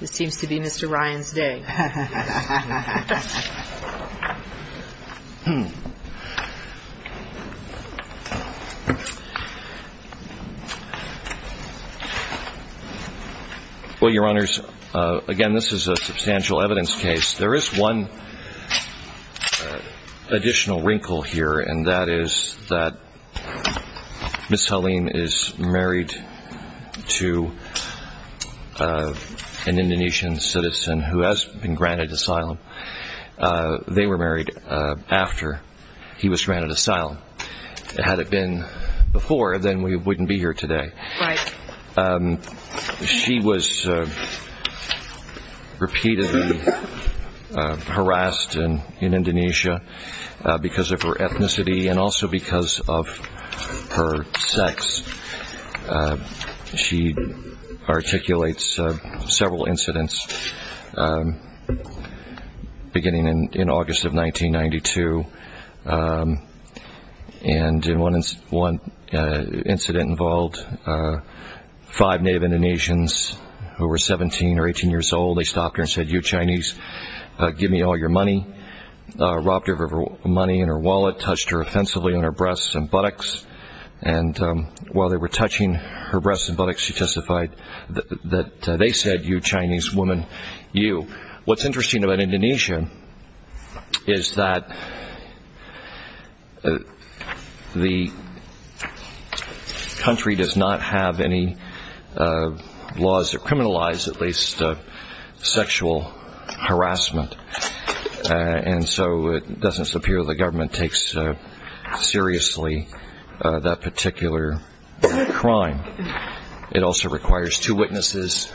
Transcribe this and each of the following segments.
This seems to be Mr. Ryan's day. Well, Your Honors, again, this is a substantial evidence case. There is one additional wrinkle here, and that is that Ms. Halim is married to an Indonesian citizen who has been granted asylum. They were married after he was granted asylum. Had it been before, then we wouldn't be here today. Right. She was repeatedly harassed in Indonesia because of her ethnicity and also because of her sex. She articulates several incidents beginning in August of 1992. And one incident involved five native Indonesians who were 17 or 18 years old. They stopped her and said, you Chinese, give me all your money. Robbed her of her money in her wallet, touched her offensively on her breasts and buttocks. And while they were touching her breasts and buttocks, she testified that they said, you Chinese woman, you. What's interesting about Indonesia is that the country does not have any laws that criminalize at least sexual harassment. And so it doesn't appear the government takes seriously that particular crime. It also requires two witnesses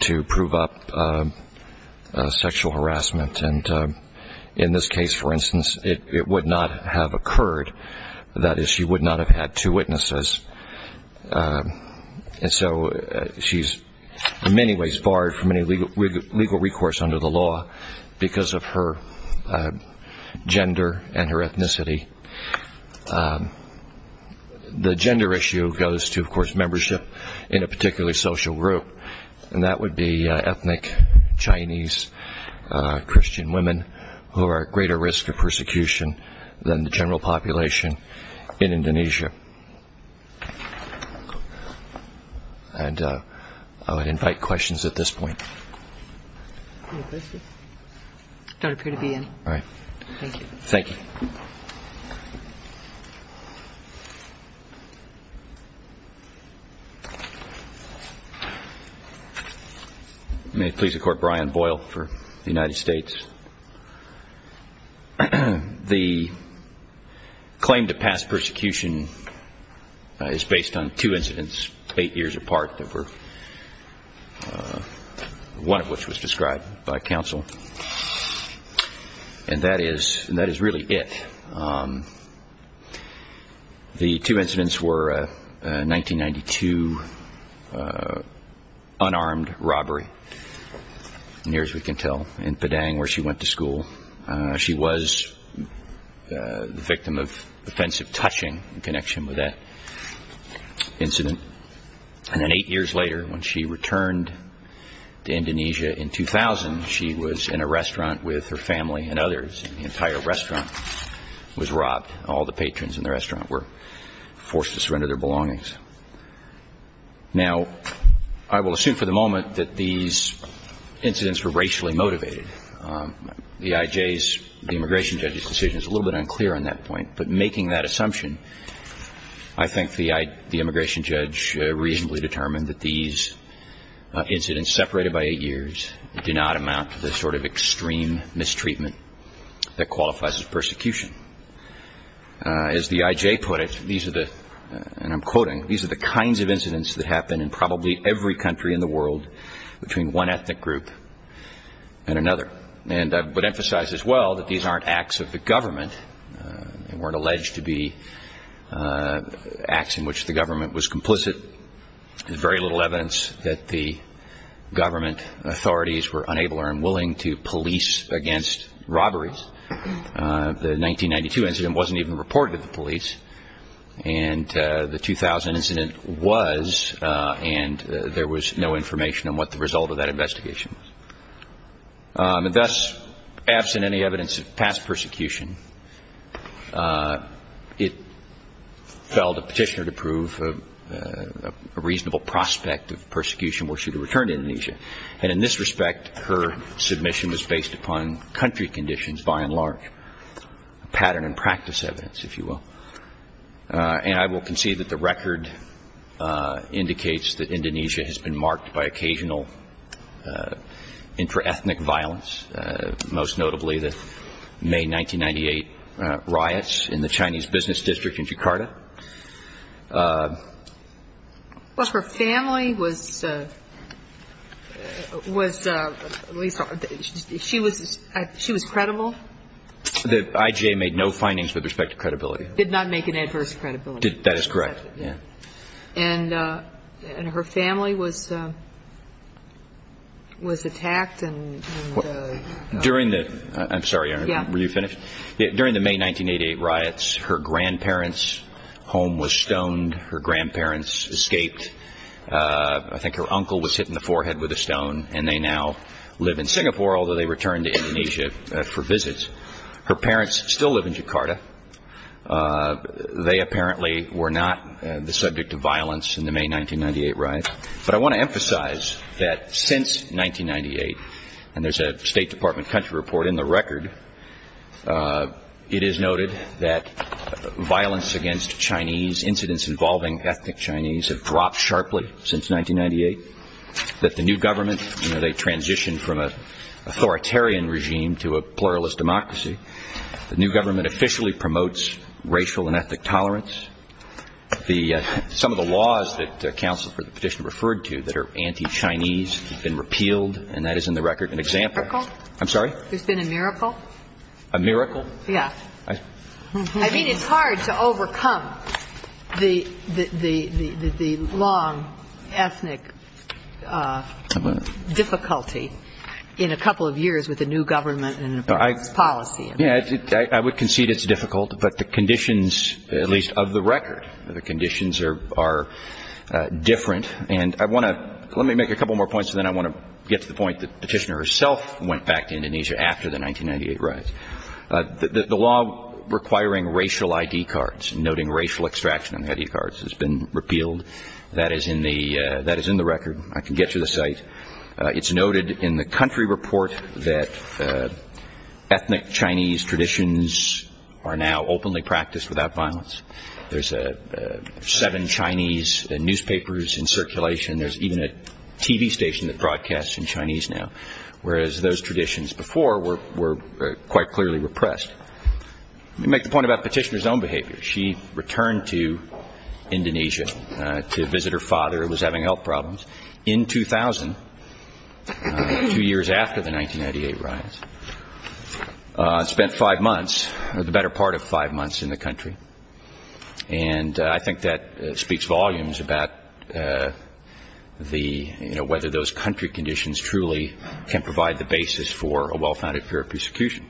to prove up sexual harassment. And in this case, for instance, it would not have occurred. That is, she would not have had two witnesses. And so she's in many ways barred from any legal recourse under the law because of her gender and her ethnicity. The gender issue goes to, of course, membership in a particular social group. And that would be ethnic Chinese Christian women who are at greater risk of persecution than the general population in Indonesia. And I would invite questions at this point. Don't appear to be in. All right. Thank you. Thank you. May it please the Court, Brian Boyle for the United States. The claim to pass persecution is based on two incidents eight years apart, one of which was described by counsel. And that is really it. The two incidents were a 1992 unarmed robbery. Near as we can tell in Padang where she went to school. She was the victim of offensive touching in connection with that incident. And then eight years later when she returned to Indonesia in 2000, she was in a restaurant with her family and others. And the entire restaurant was robbed. All the patrons in the restaurant were forced to surrender their belongings. Now, I will assume for the moment that these incidents were racially motivated. The IJ's, the immigration judge's decision is a little bit unclear on that point. But making that assumption, I think the immigration judge reasonably determined that these incidents separated by eight years do not amount to the sort of extreme mistreatment that qualifies as persecution. As the IJ put it, these are the, and I'm quoting, these are the kinds of incidents that happen in probably every country in the world between one ethnic group and another. And I would emphasize as well that these aren't acts of the government. They weren't alleged to be acts in which the government was complicit. There's very little evidence that the government authorities were unable or unwilling to police against robberies. The 1992 incident wasn't even reported to the police. And the 2000 incident was, and there was no information on what the result of that investigation was. And thus, absent any evidence of past persecution, it fell to Petitioner to prove a reasonable prospect of persecution were she to return to Indonesia. And in this respect, her submission was based upon country conditions by and large, pattern and practice evidence, if you will. And I will concede that the record indicates that Indonesia has been marked by occasional intra-ethnic violence, most notably the May 1998 riots in the Chinese business district in Jakarta. Well, her family was at least, she was credible. The IGA made no findings with respect to credibility. Did not make an adverse credibility assessment. That is correct, yeah. And her family was attacked. During the, I'm sorry, were you finished? Yeah. During the May 1988 riots, her grandparents' home was stoned. Her grandparents escaped. I think her uncle was hit in the forehead with a stone, and they now live in Singapore, although they returned to Indonesia for visits. Her parents still live in Jakarta. They apparently were not the subject of violence in the May 1998 riots. But I want to emphasize that since 1998, and there's a State Department country report in the record, it is noted that violence against Chinese, incidents involving ethnic Chinese have dropped sharply since 1998. That the new government, you know, they transitioned from an authoritarian regime to a pluralist democracy. The new government officially promotes racial and ethnic tolerance. Some of the laws that counsel for the petition referred to that are anti-Chinese have been repealed, and that is in the record an example. A miracle? I'm sorry? There's been a miracle? A miracle? Yeah. I mean, it's hard to overcome the long ethnic difficulty in a couple of years with a new government and a new policy. Yeah, I would concede it's difficult, but the conditions, at least of the record, the conditions are different. And I want to let me make a couple more points, and then I want to get to the point that the petitioner herself went back to Indonesia after the 1998 riots. The law requiring racial ID cards, noting racial extraction on the ID cards has been repealed. That is in the record. I can get you the site. It's noted in the country report that ethnic Chinese traditions are now openly practiced without violence. There's seven Chinese newspapers in circulation. There's even a TV station that broadcasts in Chinese now, whereas those traditions before were quite clearly repressed. Let me make the point about the petitioner's own behavior. She returned to Indonesia to visit her father who was having health problems. In 2000, two years after the 1998 riots, spent five months, or the better part of five months, in the country. And I think that speaks volumes about the, you know, whether those country conditions truly can provide the basis for a well-founded fear of persecution.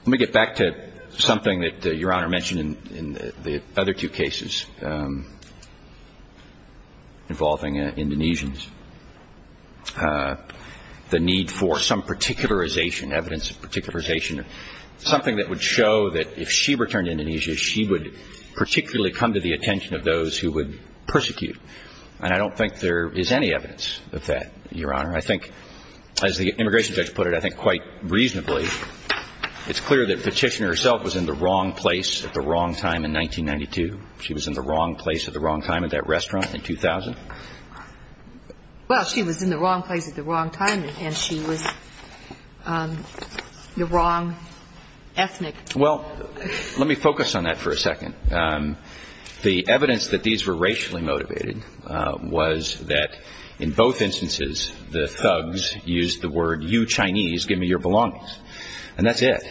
Let me get back to something that Your Honor mentioned in the other two cases involving Indonesians, the need for some particularization, evidence of particularization, something that would show that if she returned to Indonesia, she would particularly come to the attention of those who would persecute. And I don't think there is any evidence of that, Your Honor. I think, as the immigration judge put it, I think quite reasonably, it's clear that the petitioner herself was in the wrong place at the wrong time in 1992. She was in the wrong place at the wrong time at that restaurant in 2000. Well, she was in the wrong place at the wrong time, and she was the wrong ethnic. Well, let me focus on that for a second. The evidence that these were racially motivated was that in both instances, the thugs used the word, you Chinese, give me your belongings. And that's it.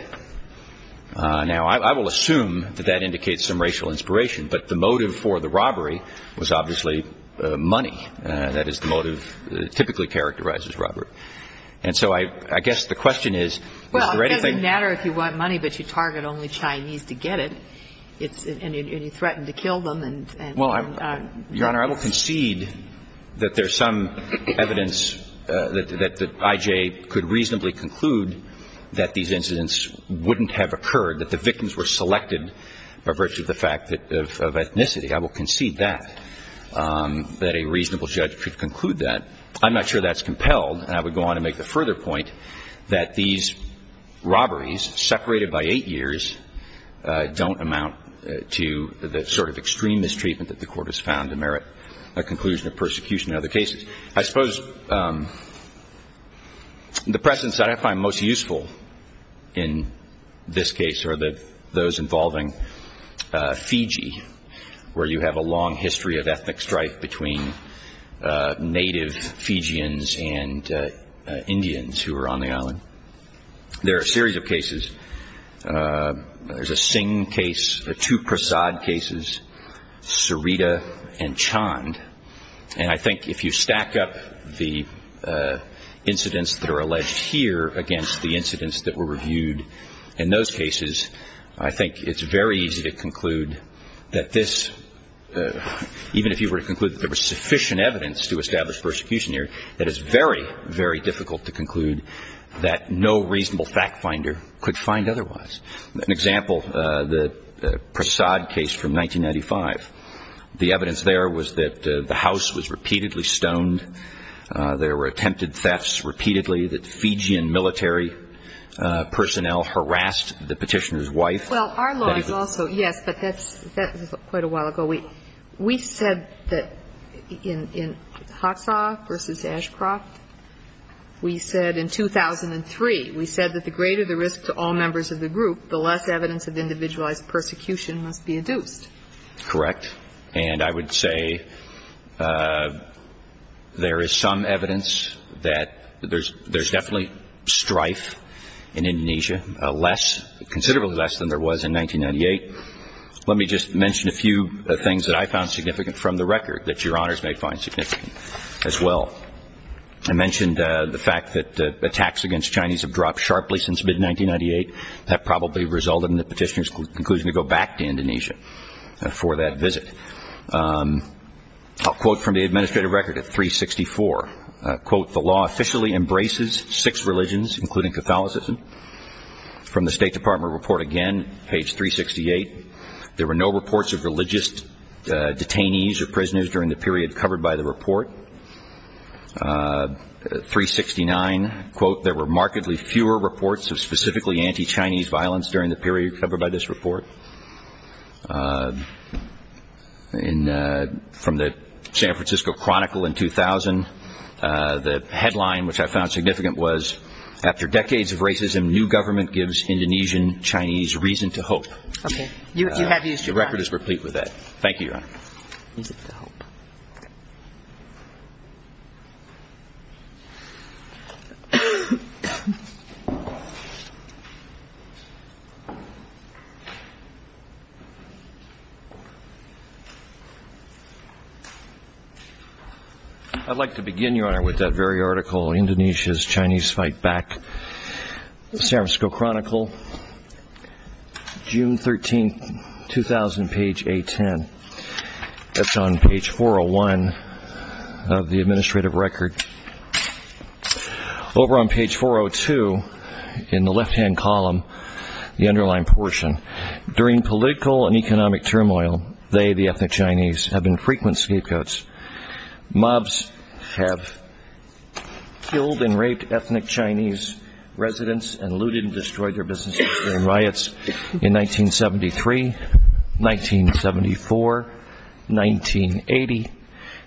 Now, I will assume that that indicates some racial inspiration, but the motive for the robbery was obviously money. That is the motive that typically characterizes robbery. And so I guess the question is, is there anything? Well, it doesn't matter if you want money, but you target only Chinese to get it. And you threaten to kill them. Well, Your Honor, I will concede that there's some evidence that I.J. could reasonably conclude that these incidents wouldn't have occurred, that the victims were selected by virtue of the fact of ethnicity. I will concede that, that a reasonable judge could conclude that. I'm not sure that's compelled. And I would go on to make the further point that these robberies, separated by eight years, don't amount to the sort of extreme mistreatment that the court has found to merit a conclusion of persecution in other cases. I suppose the precedents that I find most useful in this case are those involving Fiji, where you have a long history of ethnic strife between native Fijians and Indians who were on the island. There are a series of cases. There's a Singh case, two Prasad cases, Sarita and Chand. And I think if you stack up the incidents that are alleged here against the incidents that were reviewed in those cases, I think it's very easy to conclude that this, even if you were to conclude that there was sufficient evidence to establish persecution here, it is very, very difficult to conclude that no reasonable fact finder could find otherwise. An example, the Prasad case from 1995. The evidence there was that the house was repeatedly stoned. There were attempted thefts repeatedly that Fijian military personnel harassed the petitioner's wife. Well, our law is also, yes, but that was quite a while ago. We said that in Hotsaw v. Ashcroft, we said in 2003, we said that the greater the risk to all members of the group, the less evidence of individualized persecution must be adduced. Correct. And I would say there is some evidence that there's definitely strife in Indonesia, less, considerably less than there was in 1998. Let me just mention a few things that I found significant from the record that Your Honors may find significant as well. I mentioned the fact that attacks against Chinese have dropped sharply since mid-1998. That probably resulted in the petitioner's conclusion to go back to Indonesia for that visit. I'll quote from the administrative record at 364. Quote, the law officially embraces six religions, including Catholicism. From the State Department report again, page 368, there were no reports of religious detainees or prisoners during the period covered by the report. 369, quote, there were markedly fewer reports of specifically anti-Chinese violence during the period covered by this report. And from the San Francisco Chronicle in 2000, the headline which I found significant was, after decades of racism, new government gives Indonesian Chinese reason to hope. You have used it, Your Honor. The record is complete with that. Thank you, Your Honor. Reason to hope. Thank you. I'd like to begin, Your Honor, with that very article, Indonesia's Chinese Fight Back. San Francisco Chronicle, June 13, 2000, page A10. That's on page 401 of the administrative record. Over on page 402 in the left-hand column, the underlying portion, during political and economic turmoil, they, the ethnic Chinese, have been frequent scapegoats. Mobs have killed and raped ethnic Chinese residents and looted and destroyed their businesses in riots in 1973, 1974, 1980,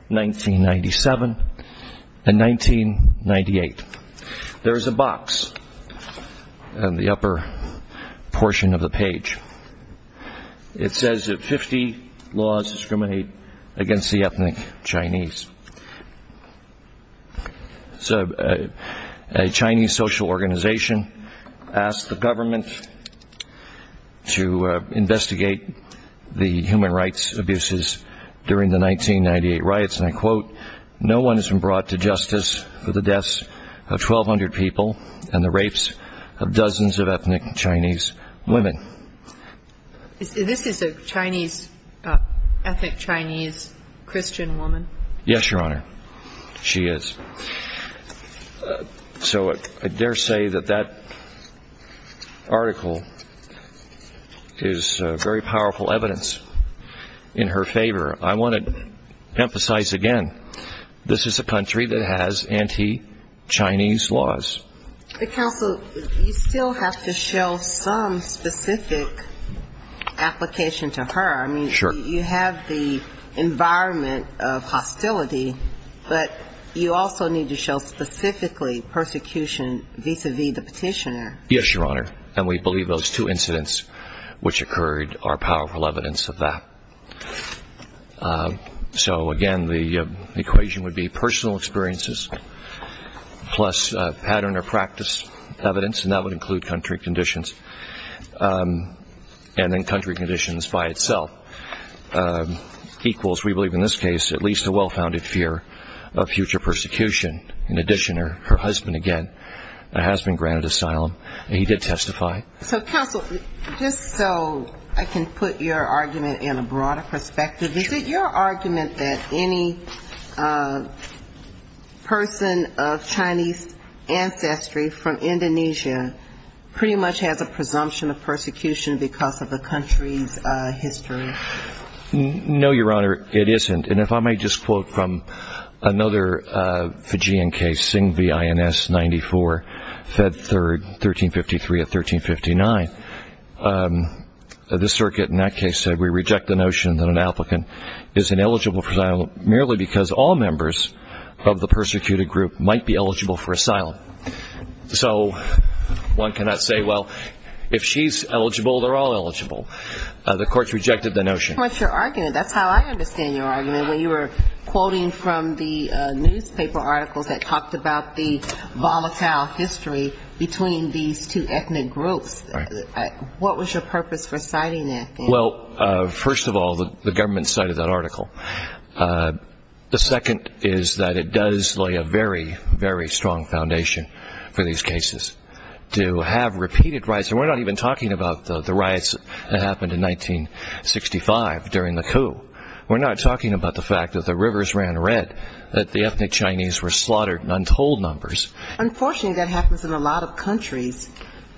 1997, and 1998. There is a box on the upper portion of the page. It says that 50 laws discriminate against the ethnic Chinese. So a Chinese social organization asked the government to investigate the human rights abuses during the 1998 riots, and I quote, no one has been brought to justice for the deaths of 1,200 people and the rapes of dozens of ethnic Chinese women. This is an ethnic Chinese Christian woman? Yes, Your Honor, she is. So I dare say that that article is very powerful evidence in her favor. I want to emphasize again, this is a country that has anti-Chinese laws. But Counsel, you still have to show some specific application to her. I mean, you have the environment of hostility, but you also need to show specifically persecution vis-à-vis the petitioner. Yes, Your Honor, and we believe those two incidents which occurred are powerful evidence of that. So again, the equation would be personal experiences plus pattern or practice evidence, and that would include country conditions. And then country conditions by itself equals, we believe in this case, at least a well-founded fear of future persecution. In addition, her husband, again, has been granted asylum, and he did testify. So, Counsel, just so I can put your argument in a broader perspective, is it your argument that any person of Chinese ancestry from Indonesia pretty much has a presumption of persecution because of the country's history? No, Your Honor, it isn't. And if I may just quote from another Fijian case, Singh v. INS 94, Fed 3rd, 1353 of 1359. The circuit in that case said, We reject the notion that an applicant is ineligible for asylum merely because all members of the persecuted group might be eligible for asylum. So one cannot say, well, if she's eligible, they're all eligible. The court rejected the notion. That's how I understand your argument. When you were quoting from the newspaper articles that talked about the volatile history between these two ethnic groups, what was your purpose for citing that? Well, first of all, the government cited that article. The second is that it does lay a very, very strong foundation for these cases to have repeated riots. And we're not even talking about the riots that happened in 1965 during the coup. We're not talking about the fact that the rivers ran red, that the ethnic Chinese were slaughtered in untold numbers. Unfortunately, that happens in a lot of countries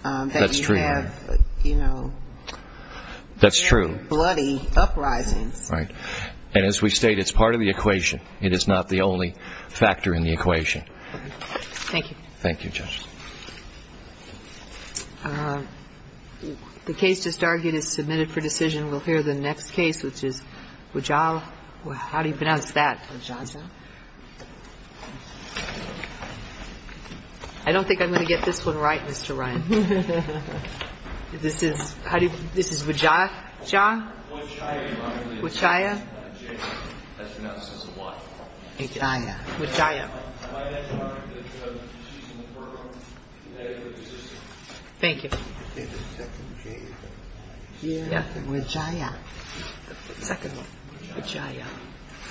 that you have, you know, very bloody uprisings. Right. And as we state, it's part of the equation. It is not the only factor in the equation. Thank you. Thank you, Judge. The case just argued is submitted for decision. We'll hear the next case, which is Wajah. How do you pronounce that, Wajah? I don't think I'm going to get this one right, Mr. Ryan. This is, how do you, this is Wajah? Wajah? Wajah. Wajah. Wajah. Thank you. Wajah. The second one. Wajah.